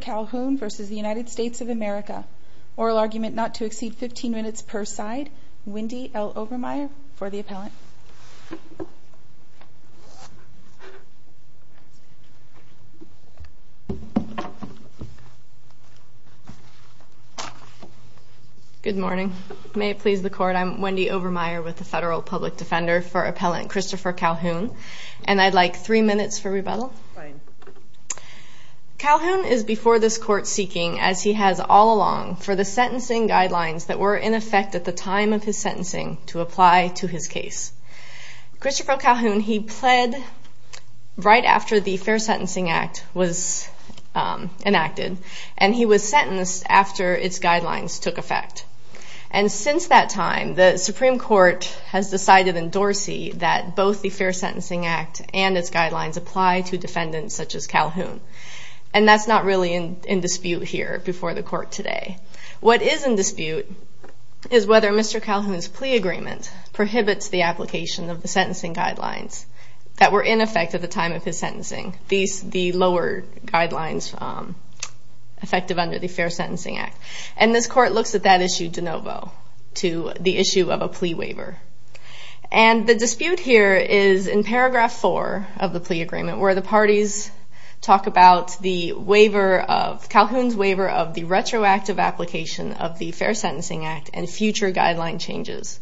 Calhoun v. United States of America. for the appellant. Good morning. May it please the Court, I'm Wendy Overmeyer with the Federal Public Defender for Appellant Christopher Calhoun. And I'd like three minutes for rebuttal. Calhoun is before this Court seeking, as he has all along, for the sentencing guidelines that were in effect at the time of his sentencing to apply to his case. Christopher Calhoun, he pled right after the Fair Sentencing Act was enacted, and he was sentenced after its guidelines took effect. And since that time, the Supreme Court has decided in Dorsey that both the Fair Sentencing Act and its guidelines apply to defendants such as Calhoun. And that's not really in dispute here before the Court today. What is in dispute is whether Mr. Calhoun's plea agreement prohibits the application of the sentencing guidelines that were in effect at the time of his sentencing, the lower guidelines effective under the Fair Sentencing Act. And this Court looks at that issue de novo to the issue of a plea waiver. And the dispute here is in paragraph four of the plea agreement where the parties talk about Calhoun's waiver of the retroactive application of the Fair Sentencing Act and future guideline changes.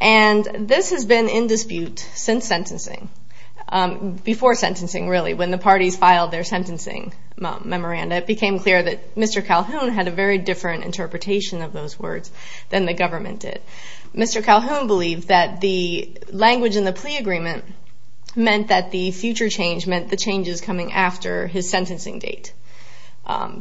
And this has been in dispute since sentencing, before sentencing really, when the parties filed their sentencing memoranda. It became clear that Mr. Calhoun had a very different interpretation of those words than the government did. Mr. Calhoun believed that the language in the plea agreement meant that the future change meant the changes coming after his sentencing date,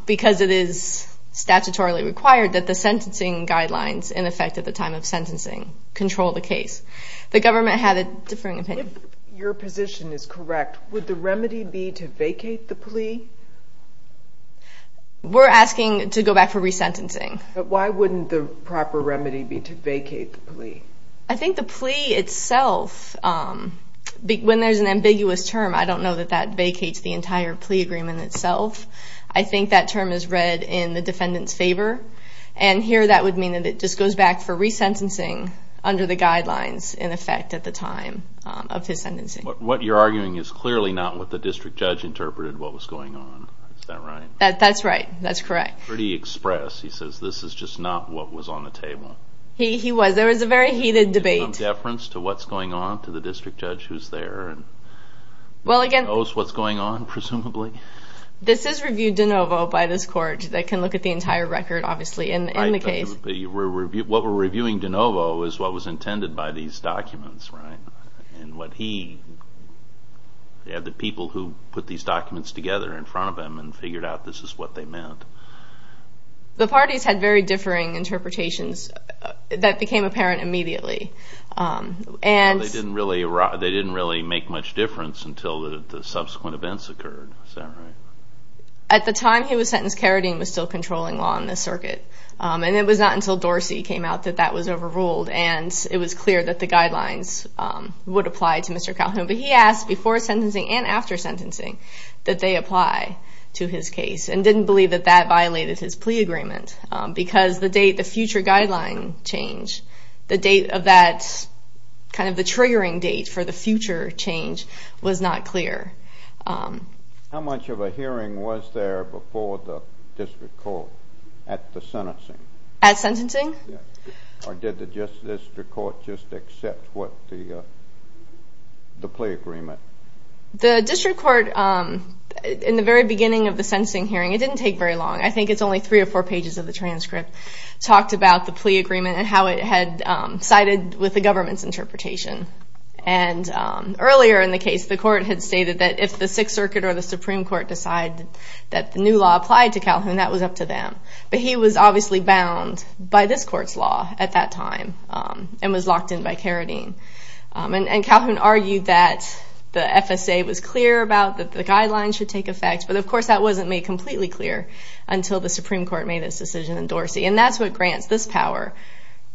because it is statutorily required that the sentencing guidelines in effect at the time of sentencing control the case. The government had a differing opinion. If your position is correct, would the remedy be to vacate the plea? We're asking to go back for resentencing. But why wouldn't the proper remedy be to vacate the plea? I think the plea itself, when there's an ambiguous term, I don't know that that vacates the entire plea agreement itself. I think that term is read in the defendant's favor. And here that would mean that it just goes back for resentencing under the guidelines in effect at the time of his sentencing. What you're arguing is clearly not what the district judge interpreted what was going on. Is that right? That's right. That's correct. Pretty express. He says this is just not what was on the table. He was. There was a very heated debate. There's no deference to what's going on to the district judge who's there and knows what's going on, presumably? This is reviewed de novo by this court that can look at the entire record, obviously, in the case. What we're reviewing de novo is what was intended by these documents, right? And what he had the people who put these documents together in front of him and figured out this is what they meant. The parties had very differing interpretations that became apparent immediately. And they didn't really make much difference until the subsequent events occurred. At the time he was sentenced, Carradine was still controlling law in the circuit. And it was not until Dorsey came out that that was overruled. And it was clear that the guidelines would apply to Mr. Calhoun. But he asked before sentencing and after sentencing that they apply to his case and didn't believe that that violated his plea agreement. Because the date, the future guideline change, the date of that kind of the triggering date for the future change was not clear. How much of a hearing was there before the district court at the sentencing? At sentencing? Or did the district court just accept the plea agreement? The district court, in the very beginning of the sentencing hearing, it didn't take very long. I think it's only three or four pages of the transcript, talked about the plea agreement and how it had sided with the government's interpretation. And earlier in the case, the court had stated that if the Sixth Circuit or the Supreme Court decided that the new law applied to Calhoun, that was up to them. But he was obviously bound by this court's law at that time and was locked in by Carradine. And Calhoun argued that the FSA was clear about that the guidelines should take effect. But, of course, that wasn't made completely clear until the Supreme Court made its decision in Dorsey. And that's what grants this power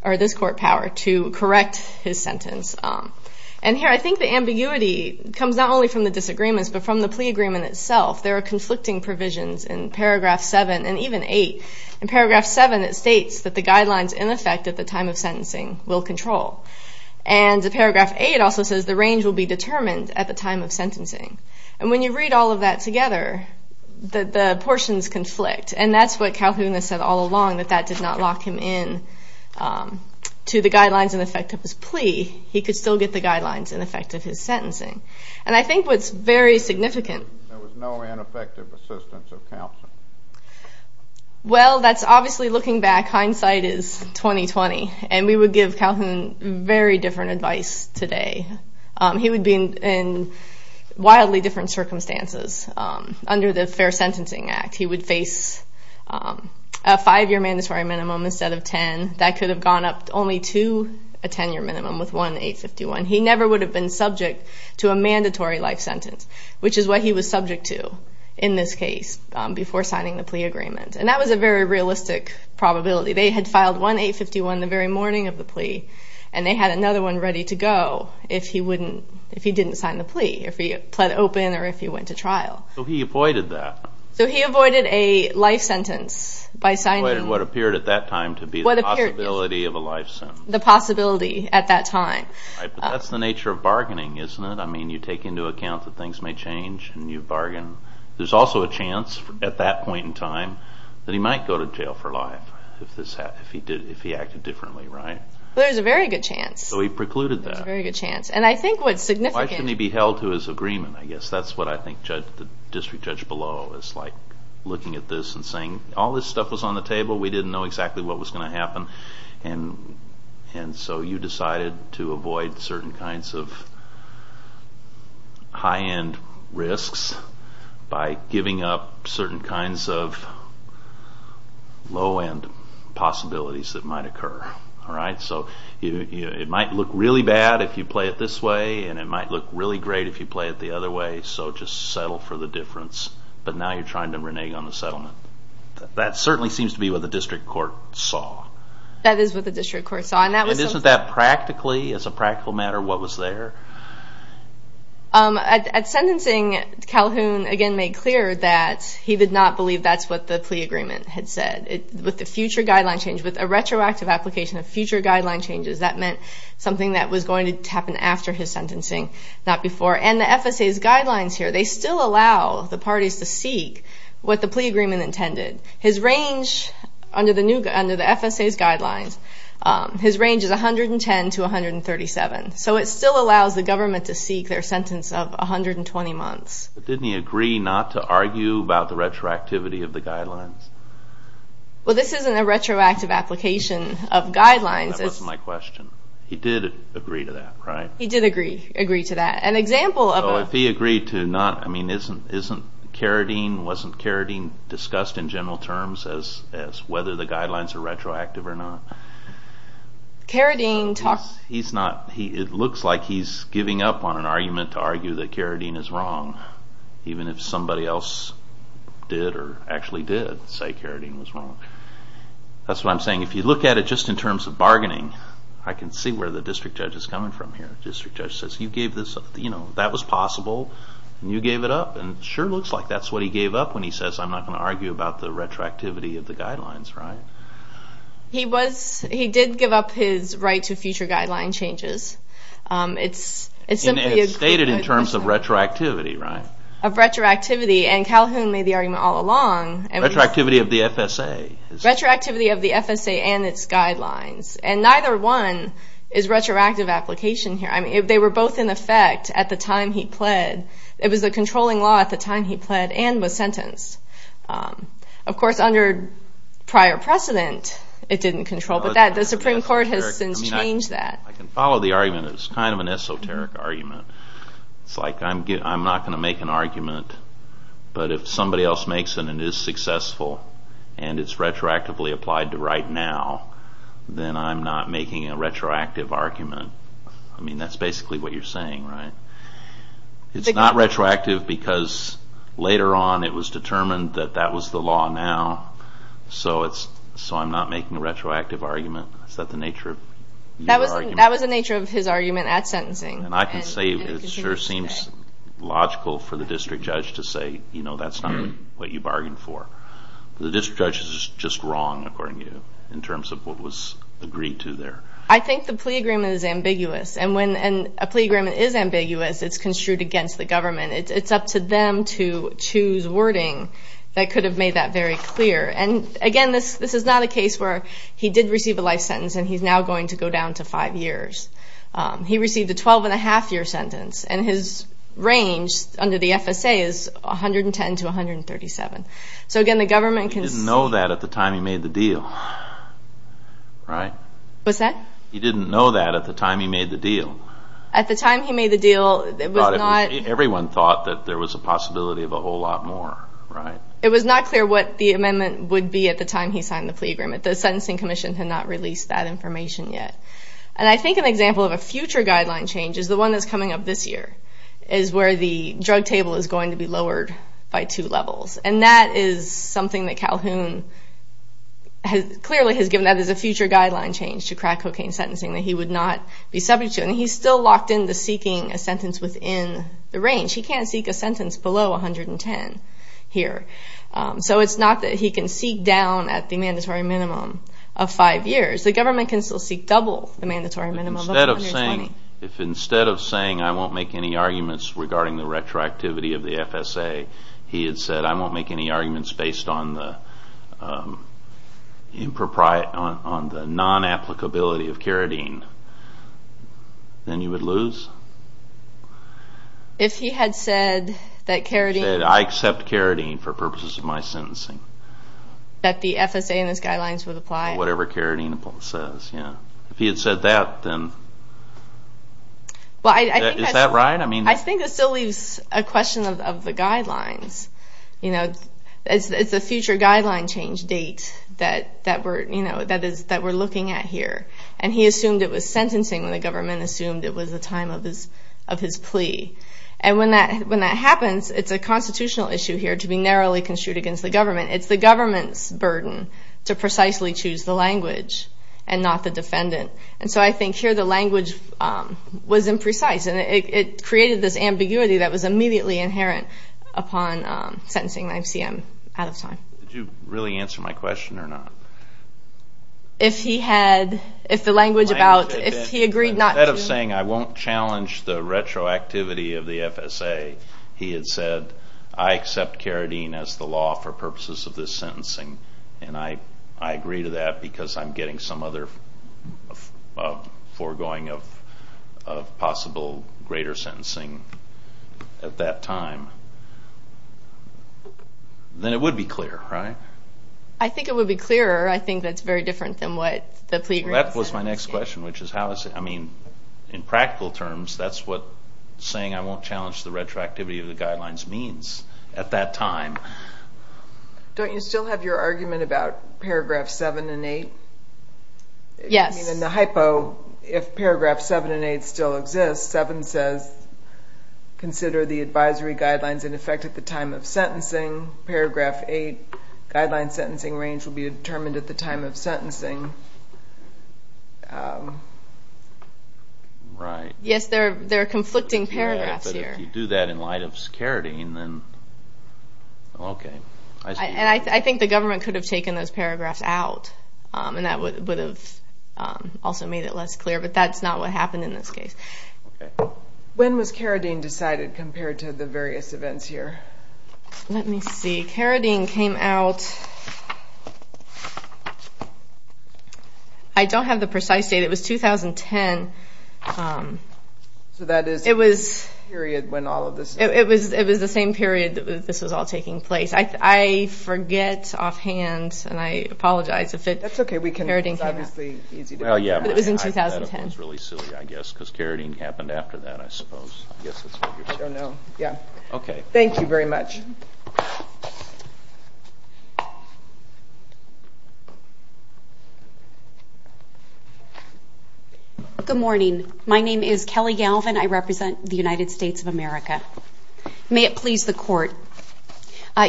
or this court power to correct his sentence. And here, I think the ambiguity comes not only from the disagreements, but from the plea agreement itself. There are conflicting provisions in paragraph seven and even eight. In paragraph seven, it states that the guidelines in effect at the time of sentencing will control. And paragraph eight also says the range will be determined at the time of sentencing. And when you read all of that together, the portions conflict. And that's what Calhoun has said all along, that that did not lock him in to the guidelines in effect of his plea. He could still get the guidelines in effect of his sentencing. And I think what's very significant. There was no ineffective assistance of counsel. Well, that's obviously looking back. Hindsight is 20-20. And we would give Calhoun very different advice today. He would be in wildly different circumstances. Under the Fair Sentencing Act, he would face a five-year mandatory minimum instead of ten. That could have gone up only to a ten-year minimum with one 851. He never would have been subject to a mandatory life sentence, which is what he was subject to in this case before signing the plea agreement. And that was a very realistic probability. They had filed one 851 the very morning of the plea. And they had another one ready to go if he didn't sign the plea, if he pled open or if he went to trial. So he avoided that. So he avoided a life sentence by signing. He avoided what appeared at that time to be the possibility of a life sentence. The possibility at that time. But that's the nature of bargaining, isn't it? I mean, you take into account that things may change and you bargain. There's also a chance at that point in time that he might go to jail for life if he acted differently, right? There's a very good chance. So he precluded that. There's a very good chance. And I think what's significant... Why couldn't he be held to his agreement, I guess? That's what I think the district judge below is like looking at this and saying, all this stuff was on the table. We didn't know exactly what was going to happen. And so you decided to avoid certain kinds of high-end risks by giving up certain kinds of low-end possibilities that might occur. All right? So it might look really bad if you play it this way, and it might look really great if you play it the other way. So just settle for the difference. But now you're trying to renege on the settlement. That certainly seems to be what the district court saw. That is what the district court saw. And isn't that practically, as a practical matter, what was there? At sentencing, Calhoun again made clear that he did not believe that's what the plea agreement had said. With the future guideline change, with a retroactive application of future guideline changes, that meant something that was going to happen after his sentencing, not before. And the FSA's guidelines here, they still allow the parties to seek what the plea agreement intended. His range under the FSA's guidelines, his range is 110 to 137. So it still allows the government to seek their sentence of 120 months. But didn't he agree not to argue about the retroactivity of the guidelines? Well, this isn't a retroactive application of guidelines. That wasn't my question. He did agree to that, right? He did agree to that. An example of a... So if he agreed to not, I mean, isn't Carradine, wasn't Carradine discussed in general terms as whether the guidelines are retroactive or not? Carradine talked... It looks like he's giving up on an argument to argue that Carradine is wrong, even if somebody else did or actually did say Carradine was wrong. That's what I'm saying. If you look at it just in terms of bargaining, I can see where the district judge is coming from here. The district judge says, you gave this, you know, that was possible, and you gave it up. And it sure looks like that's what he gave up when he says, I'm not going to argue about the retroactivity of the guidelines, right? He did give up his right to future guideline changes. It's simply a... It's stated in terms of retroactivity, right? Of retroactivity, and Calhoun made the argument all along. Retroactivity of the FSA. Retroactivity of the FSA and its guidelines. And neither one is retroactive application here. I mean, they were both in effect at the time he pled. It was a controlling law at the time he pled and was sentenced. Of course, under prior precedent, it didn't control. But the Supreme Court has since changed that. I can follow the argument. It was kind of an esoteric argument. It's like, I'm not going to make an argument, but if somebody else makes it and it is successful and it's retroactively applied to right now, then I'm not making a retroactive argument. I mean, that's basically what you're saying, right? It's not retroactive because later on, it was determined that that was the law now, so I'm not making a retroactive argument. Is that the nature of your argument? That was the nature of his argument at sentencing. And I can say it sure seems logical for the district judge to say, you know, that's not what you bargained for. The district judge is just wrong, according to you, in terms of what was agreed to there. I think the plea agreement is ambiguous. And when a plea agreement is ambiguous, it's construed against the government. It's up to them to choose wording that could have made that very clear. And, again, this is not a case where he did receive a life sentence and he's now going to go down to five years. He received a 12-and-a-half-year sentence, and his range under the FSA is 110 to 137. So, again, the government can see... He didn't know that at the time he made the deal, right? What's that? He didn't know that at the time he made the deal. At the time he made the deal, it was not... Everyone thought that there was a possibility of a whole lot more, right? It was not clear what the amendment would be at the time he signed the plea agreement. The sentencing commission had not released that information yet. And I think an example of a future guideline change is the one that's coming up this year, is where the drug table is going to be lowered by two levels. And that is something that Calhoun clearly has given that as a future guideline change to crack cocaine sentencing that he would not be subject to. And he's still locked into seeking a sentence within the range. He can't seek a sentence below 110 here. So it's not that he can seek down at the mandatory minimum of five years. The government can still seek double the mandatory minimum of 120. If instead of saying, I won't make any arguments regarding the retroactivity of the FSA, he had said, I won't make any arguments based on the non-applicability of carotene, then you would lose? If he had said that carotene... He said, I accept carotene for purposes of my sentencing. That the FSA and its guidelines would apply? Whatever carotene says, yeah. If he had said that, then... Is that right? I think it still leaves a question of the guidelines. It's a future guideline change date that we're looking at here. And he assumed it was sentencing when the government assumed it was the time of his plea. And when that happens, it's a constitutional issue here to be narrowly construed against the government. It's the government's burden to precisely choose the language and not the defendant. And so I think here the language was imprecise and it created this ambiguity that was immediately inherent upon sentencing. I see I'm out of time. Did you really answer my question or not? If he had... If the language about... If he agreed not to... Instead of saying, I won't challenge the retroactivity of the FSA, he had said, I accept carotene as the law for purposes of this sentencing. And I agree to that because I'm getting some other foregoing of possible greater sentencing at that time. Then it would be clear, right? I think it would be clearer. I think that's very different than what the plea agreement said. That was my next question, which is how is it... I mean, in practical terms, that's what saying I won't challenge the retroactivity of the guidelines means at that time. Don't you still have your argument about paragraph 7 and 8? Yes. I mean, in the hypo, if paragraph 7 and 8 still exist, 7 says consider the advisory guidelines in effect at the time of sentencing. Paragraph 8, guideline sentencing range will be determined at the time of sentencing. Right. Yes, there are conflicting paragraphs here. But if you do that in light of carotene, then... Okay. I think the government could have taken those paragraphs out, and that would have also made it less clear. But that's not what happened in this case. Okay. When was carotene decided compared to the various events here? Let me see. Carotene came out... I don't have the precise date. It was 2010. So that is the period when all of this... It was the same period that this was all taking place. I forget offhand, and I apologize if it... That's okay. It was obviously easy to... It was in 2010. That was really silly, I guess, because carotene happened after that, I suppose. I don't know. Yeah. Okay. Thank you very much. Good morning. My name is Kelly Galvin. I represent the United States of America. May it please the Court.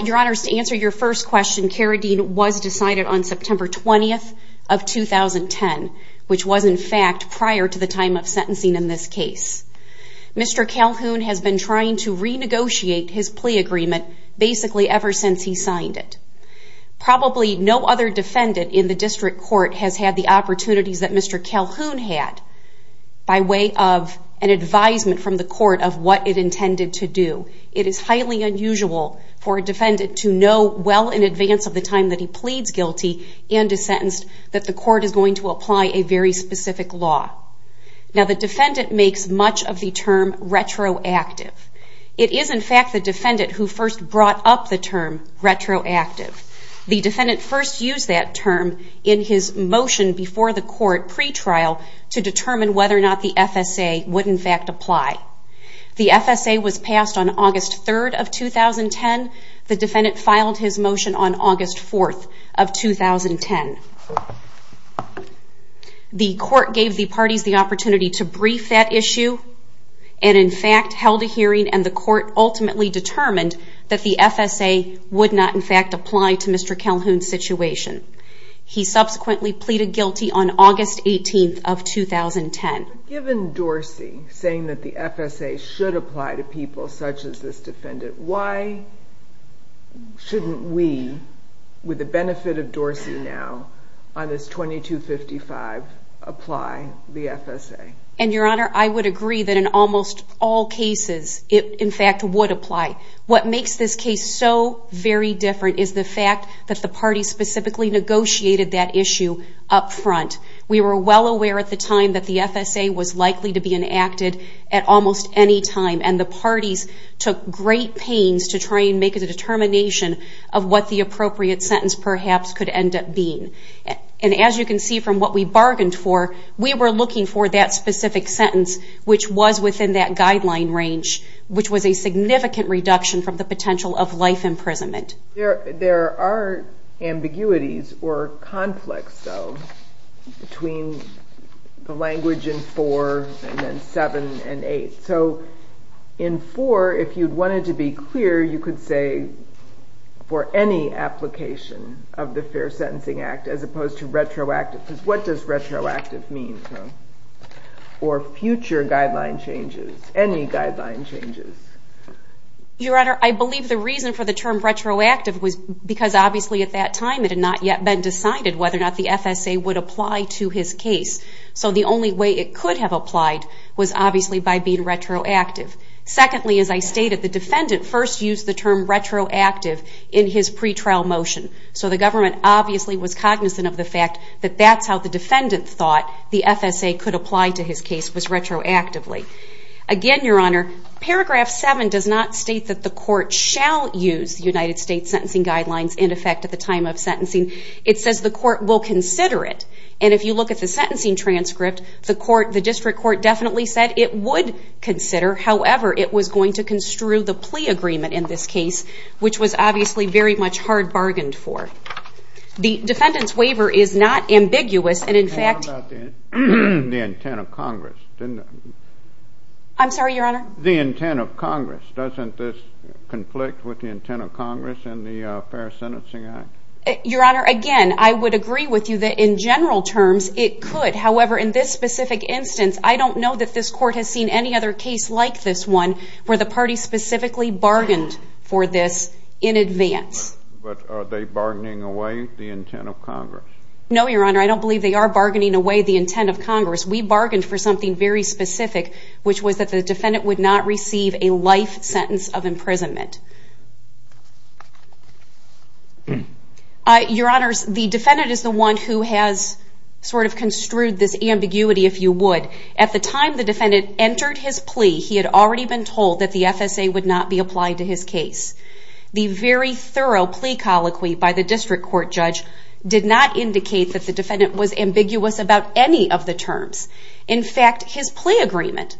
Your Honors, to answer your first question, carotene was decided on September 20th of 2010, which was, in fact, prior to the time of sentencing in this case. Mr. Calhoun has been trying to renegotiate his plea agreement basically ever since he signed it. Probably no other defendant in the district court has had the opportunities that Mr. Calhoun had by way of an advisement from the court of what it intended to do. It is highly unusual for a defendant to know well in advance of the time that he pleads guilty and is sentenced that the court is going to apply a very specific law. Now, the defendant makes much of the term retroactive. It is, in fact, the defendant who first brought up the term retroactive. The defendant first used that term in his motion before the court pretrial to determine whether or not the FSA would, in fact, apply. The FSA was passed on August 3rd of 2010. The defendant filed his motion on August 4th of 2010. The court gave the parties the opportunity to brief that issue and, in fact, held a hearing, and the court ultimately determined that the FSA would not, in fact, apply to Mr. Calhoun's situation. He subsequently pleaded guilty on August 18th of 2010. Given Dorsey saying that the FSA should apply to people such as this defendant, why shouldn't we, with the benefit of Dorsey now, on this 2255, apply the FSA? And, Your Honor, I would agree that in almost all cases it, in fact, would apply. What makes this case so very different is the fact that the parties specifically negotiated that issue up front. We were well aware at the time that the FSA was likely to be enacted at almost any time, and the parties took great pains to try and make a determination of what the appropriate sentence perhaps could end up being. And as you can see from what we bargained for, we were looking for that specific sentence which was within that guideline range, which was a significant reduction from the potential of life imprisonment. There are ambiguities or conflicts, though, between the language in 4 and then 7 and 8. So in 4, if you wanted to be clear, you could say for any application of the Fair Sentencing Act as opposed to retroactive, because what does retroactive mean? Or future guideline changes, any guideline changes. Your Honor, I believe the reason for the term retroactive was because obviously at that time it had not yet been decided whether or not the FSA would apply to his case. So the only way it could have applied was obviously by being retroactive. Secondly, as I stated, the defendant first used the term retroactive in his pretrial motion. So the government obviously was cognizant of the fact that that's how the defendant thought the FSA could apply to his case, was retroactively. Again, Your Honor, paragraph 7 does not state that the court shall use the United States Sentencing Guidelines in effect at the time of sentencing. It says the court will consider it, and if you look at the sentencing transcript, the district court definitely said it would consider. However, it was going to construe the plea agreement in this case, which was obviously very much hard bargained for. The defendant's waiver is not ambiguous, and in fact... How about the intent of Congress? I'm sorry, Your Honor? The intent of Congress. Doesn't this conflict with the intent of Congress and the Fair Sentencing Act? Your Honor, again, I would agree with you that in general terms it could. However, in this specific instance, I don't know that this court has seen any other case like this one where the party specifically bargained for this in advance. But are they bargaining away the intent of Congress? No, Your Honor, I don't believe they are bargaining away the intent of Congress. We bargained for something very specific, which was that the defendant would not receive a life sentence of imprisonment. Your Honor, the defendant is the one who has sort of construed this ambiguity, if you would. At the time the defendant entered his plea, he had already been told that the FSA would not be applied to his case. The very thorough plea colloquy by the district court judge did not indicate that the defendant was ambiguous about any of the terms. In fact, his plea agreement,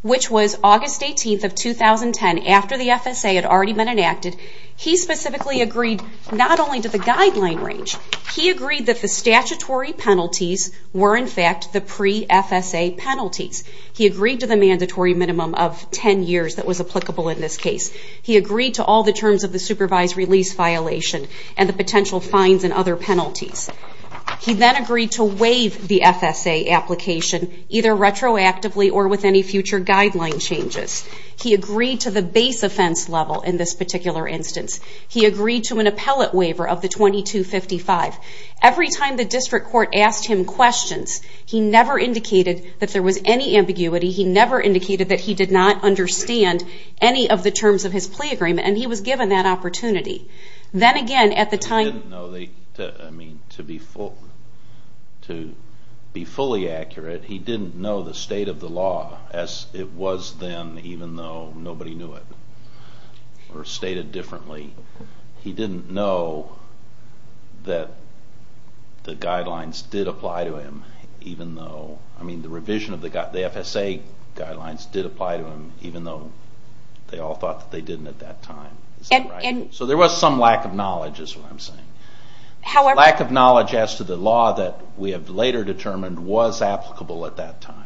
which was August 18th of 2010, after the FSA had already been enacted, he specifically agreed not only to the guideline range, he agreed that the statutory penalties were in fact the pre-FSA penalties. He agreed to the mandatory minimum of 10 years that was applicable in this case. He agreed to all the terms of the supervised release violation and the potential fines and other penalties. He then agreed to waive the FSA application, either retroactively or with any future guideline changes. He agreed to the base offense level in this particular instance. He agreed to an appellate waiver of the 2255. Every time the district court asked him questions, he never indicated that there was any ambiguity. He never indicated that he did not understand any of the terms of his plea agreement. And he was given that opportunity. Then again, at the time... To be fully accurate, he didn't know the state of the law as it was then, even though nobody knew it, or stated differently. He didn't know that the guidelines did apply to him, even though... I mean, the revision of the FSA guidelines did apply to him, even though they all thought that they didn't at that time. So there was some lack of knowledge, is what I'm saying. Lack of knowledge as to the law that we have later determined was applicable at that time.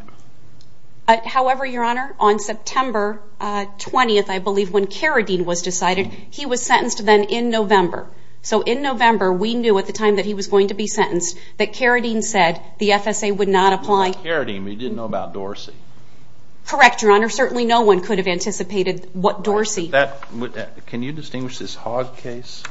However, Your Honor, on September 20th, I believe, when Carradine was decided, he was sentenced then in November. So in November, we knew at the time that he was going to be sentenced that Carradine said the FSA would not apply. He didn't know about Dorsey. Correct, Your Honor. Certainly no one could have anticipated what Dorsey... Can you distinguish this Hogg case?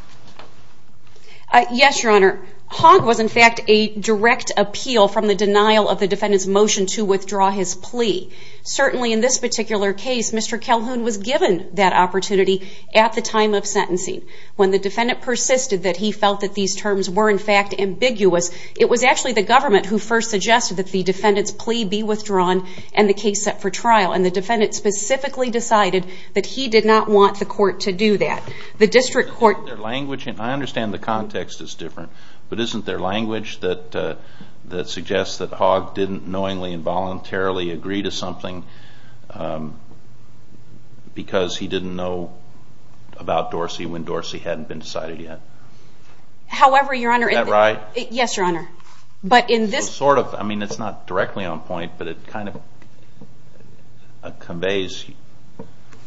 Yes, Your Honor. Hogg was in fact a direct appeal from the denial of the defendant's motion to withdraw his plea. Certainly in this particular case, Mr. Calhoun was given that opportunity at the time of sentencing. When the defendant persisted that he felt that these terms were in fact ambiguous, it was actually the government who first suggested that the defendant's plea be withdrawn and the case set for trial. And the defendant specifically decided that he did not want the court to do that. The district court... I understand the context is different, but isn't there language that suggests that Hogg didn't knowingly voluntarily agree to something because he didn't know about Dorsey when Dorsey hadn't been decided yet? However, Your Honor... Is that right? Yes, Your Honor. I mean, it's not directly on point, but it kind of conveys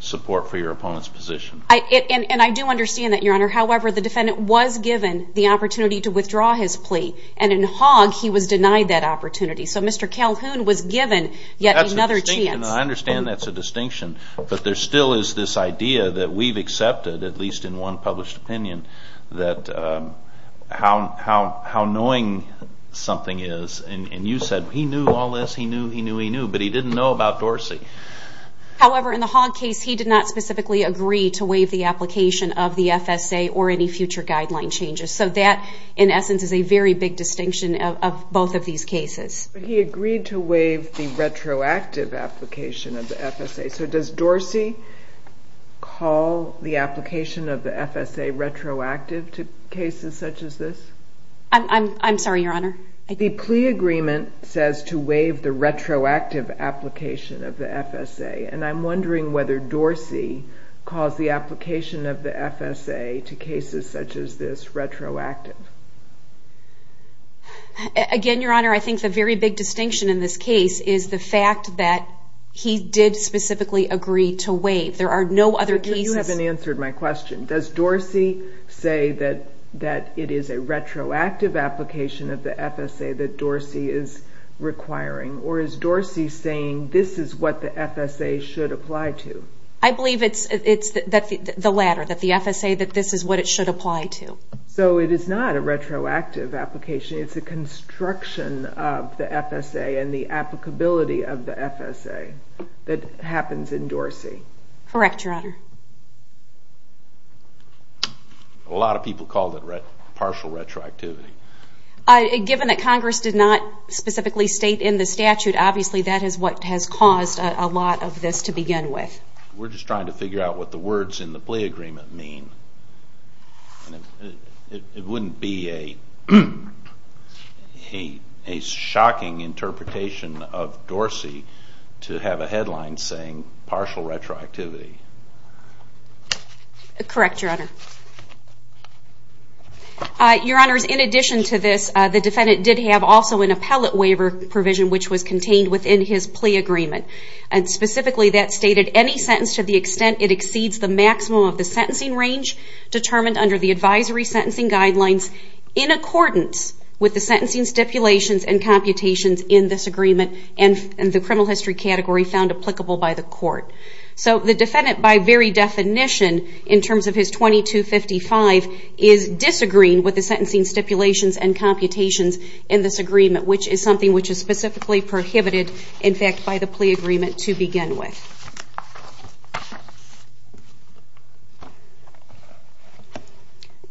support for your opponent's position. And I do understand that, Your Honor. However, the defendant was given the opportunity to withdraw his plea, and in Hogg, he was denied that opportunity. So Mr. Calhoun was given yet another chance. I understand that's a distinction, but there still is this idea that we've accepted, at least in one published opinion, that how knowing something is. And you said he knew all this, he knew, he knew, he knew, but he didn't know about Dorsey. However, in the Hogg case, he did not specifically agree to waive the application of the FSA or any future guideline changes. So that, in essence, is a very big distinction of both of these cases. But he agreed to waive the retroactive application of the FSA. So does Dorsey call the application of the FSA retroactive to cases such as this? I'm sorry, Your Honor. The plea agreement says to waive the retroactive application of the FSA, and I'm wondering whether Dorsey calls the application of the FSA to cases such as this retroactive. Again, Your Honor, I think the very big distinction in this case is the fact that he did specifically agree to waive. There are no other cases. You haven't answered my question. Does Dorsey say that it is a retroactive application of the FSA that Dorsey is requiring, or is Dorsey saying this is what the FSA should apply to? I believe it's the latter, that the FSA, that this is what it should apply to. So it is not a retroactive application. It's a construction of the FSA and the applicability of the FSA that happens in Dorsey. Correct, Your Honor. A lot of people called it partial retroactivity. Given that Congress did not specifically state in the statute, obviously that is what has caused a lot of this to begin with. We're just trying to figure out what the words in the plea agreement mean. It wouldn't be a shocking interpretation of Dorsey to have a headline saying partial retroactivity. Correct, Your Honor. Your Honor, in addition to this, the defendant did have also an appellate waiver provision which was contained within his plea agreement. Specifically that stated, any sentence to the extent it exceeds the maximum of the sentencing range determined under the advisory sentencing guidelines in accordance with the sentencing stipulations and computations in this agreement and the criminal history category found applicable by the court. So the defendant by very definition in terms of his 2255 is disagreeing with the sentencing stipulations and computations in this agreement which is something which is specifically prohibited in fact by the plea agreement to begin with.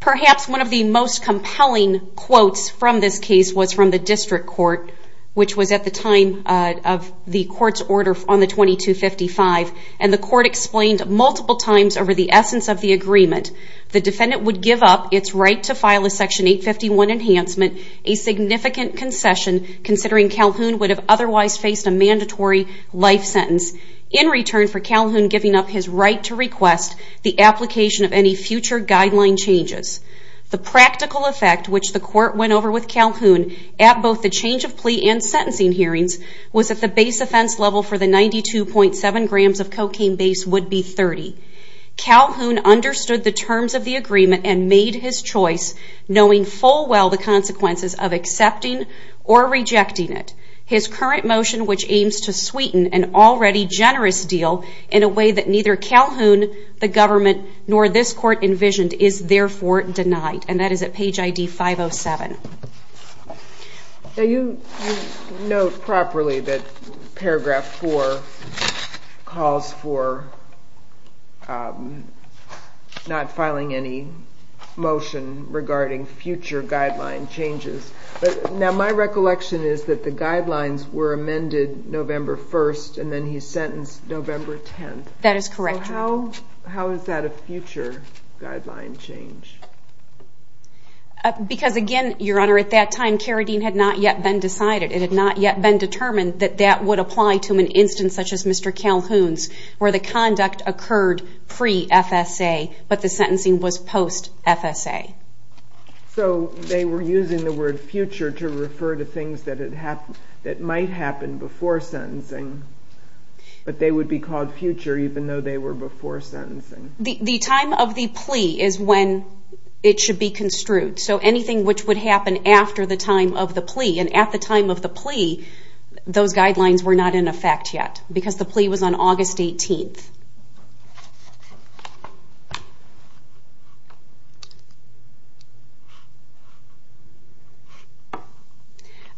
Perhaps one of the most compelling quotes from this case was from the district court which was at the time of the court's order on the 2255 and the court explained multiple times over the essence of the agreement. The defendant would give up its right to file a section 851 enhancement, a significant concession considering Calhoun would have otherwise faced a mandatory life sentence in return for Calhoun giving up his right to request the application of any future guideline changes. The practical effect which the court went over with Calhoun at both the change of plea and sentencing hearings was that the base offense level for the 92.7 grams of cocaine base would be 30. Calhoun understood the terms of the agreement and made his choice knowing full well the consequences of accepting or rejecting it. His current motion which aims to sweeten an already generous deal in a way that neither Calhoun, the government, nor this court envisioned is therefore denied and that is at page ID 507. Now you note properly that paragraph 4 calls for not filing any motion regarding future guideline changes. Now my recollection is that the guidelines were amended November 1st and then he's sentenced November 10th. That is correct. So how is that a future guideline change? Because again, Your Honor, at that time Carradine had not yet been decided. It had not yet been determined that that would apply to an instance such as Mr. Calhoun's where the conduct occurred pre-FSA but the sentencing was post-FSA. So they were using the word future to refer to things that might happen before sentencing but they would be called future even though they were before sentencing. The time of the plea is when it should be construed. So anything which would happen after the time of the plea and at the time of the plea those guidelines were not in effect yet because the plea was on August 18th.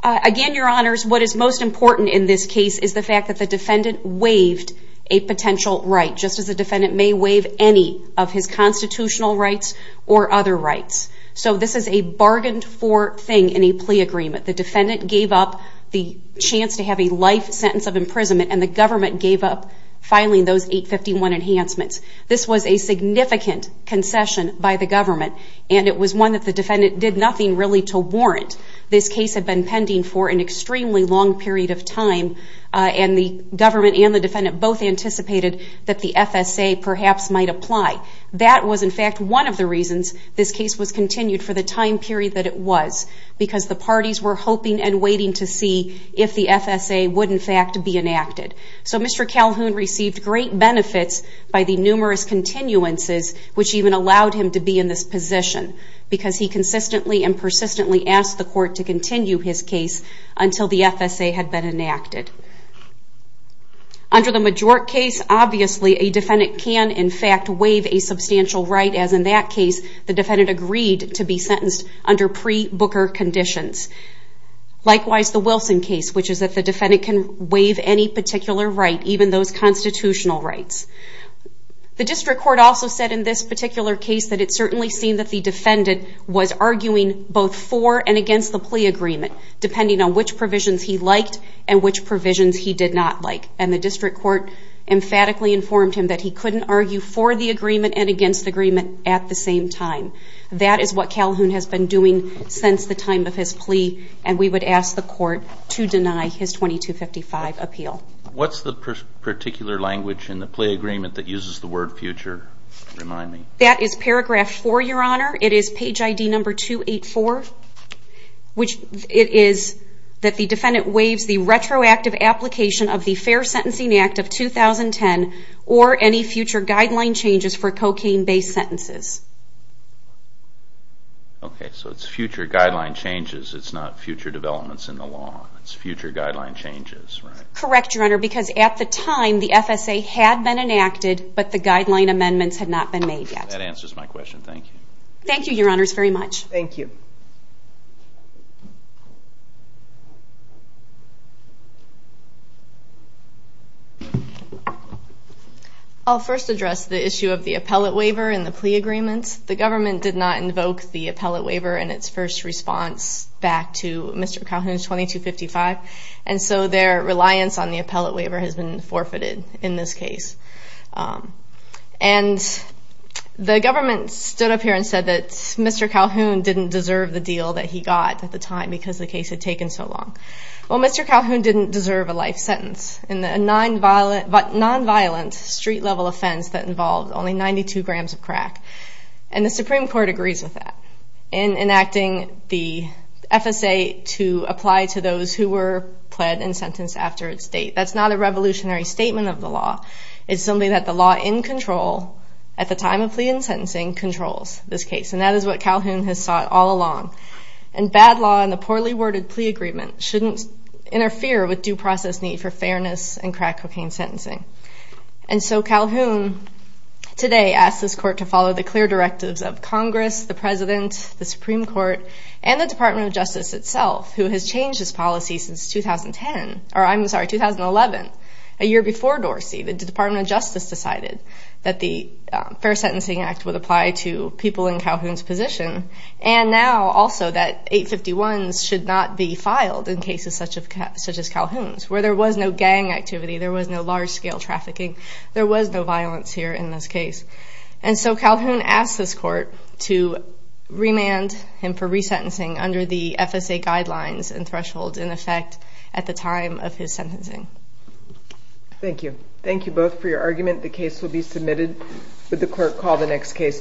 Again, Your Honors, what is most important in this case is the fact that the defendant waived a potential right just as a defendant may waive any of his constitutional rights or other rights. So this is a bargained for thing in a plea agreement. The defendant gave up the chance to have a life sentence of imprisonment and the government gave up filing those 851 enhancements. This was a significant concession by the government and it was one that the defendant did nothing really to warrant. This case had been pending for an extremely long period of time and the government and the defendant both anticipated that the FSA perhaps might apply. That was in fact one of the reasons this case was continued for the time period that it was because the parties were hoping and waiting to see if the FSA would in fact be enacted. So Mr. Calhoun received great benefits by the numerous continuances which even allowed him to be in this position because he consistently and persistently asked the court to continue his case until the FSA had been enacted. Under the Majort case, obviously a defendant can in fact waive a substantial right as in that case the defendant agreed to be sentenced under pre-Booker conditions. Likewise the Wilson case which is that the defendant can waive any particular right, even those constitutional rights. The district court also said in this particular case that it certainly seemed that the defendant was arguing both for and against the plea agreement depending on which provisions he liked and which provisions he did not like. And the district court emphatically informed him that he couldn't argue for the agreement and against the agreement at the same time. That is what Calhoun has been doing since the time of his plea and we would ask the court to deny his 2255 appeal. What's the particular language in the plea agreement that uses the word future? Remind me. That is paragraph 4, your honor. It is page ID number 284 which it is that the defendant waives the retroactive application of the Fair Sentencing Act of 2010 or any future guideline changes for cocaine-based sentences. Okay, so it's future guideline changes, it's not future developments in the law. It's future guideline changes, right? Correct, your honor, because at the time the FSA had been enacted but the guideline amendments had not been made yet. That answers my question, thank you. Thank you, your honors, very much. Thank you. I'll first address the issue of the appellate waiver in the plea agreement. The government did not invoke the appellate waiver in its first response back to Mr. Calhoun's 2255 and so their reliance on the appellate waiver has been forfeited in this case. And the government stood up here and said that Mr. Calhoun didn't deserve the deal that he got at the time because the case had taken so long. Well, Mr. Calhoun didn't deserve a life sentence in a non-violent street-level offense that involved only 92 grams of crack and the Supreme Court agrees with that in enacting the FSA to apply to those who were pled and sentenced after its date. That's not a revolutionary statement of the law. It's something that the law in control at the time of plea and sentencing controls this case and that is what Calhoun has sought all along. And bad law and the poorly worded plea agreement shouldn't interfere with due process need for fairness and crack cocaine sentencing. And so Calhoun today asks this court to follow the clear directives of Congress, the President, the Supreme Court, and the Department of Justice itself who has changed this policy since 2010 or I'm sorry, 2011, a year before Dorsey. The Department of Justice decided that the Fair Sentencing Act would apply to people in Calhoun's position and now also that 851s should not be filed in cases such as Calhoun's where there was no gang activity, there was no large-scale trafficking, there was no violence here in this state. And so I would remand him for resentencing under the FSA guidelines and thresholds in effect at the time of his sentencing. Thank you. Thank you both for your argument. The case will be submitted. Would the clerk call the next case please?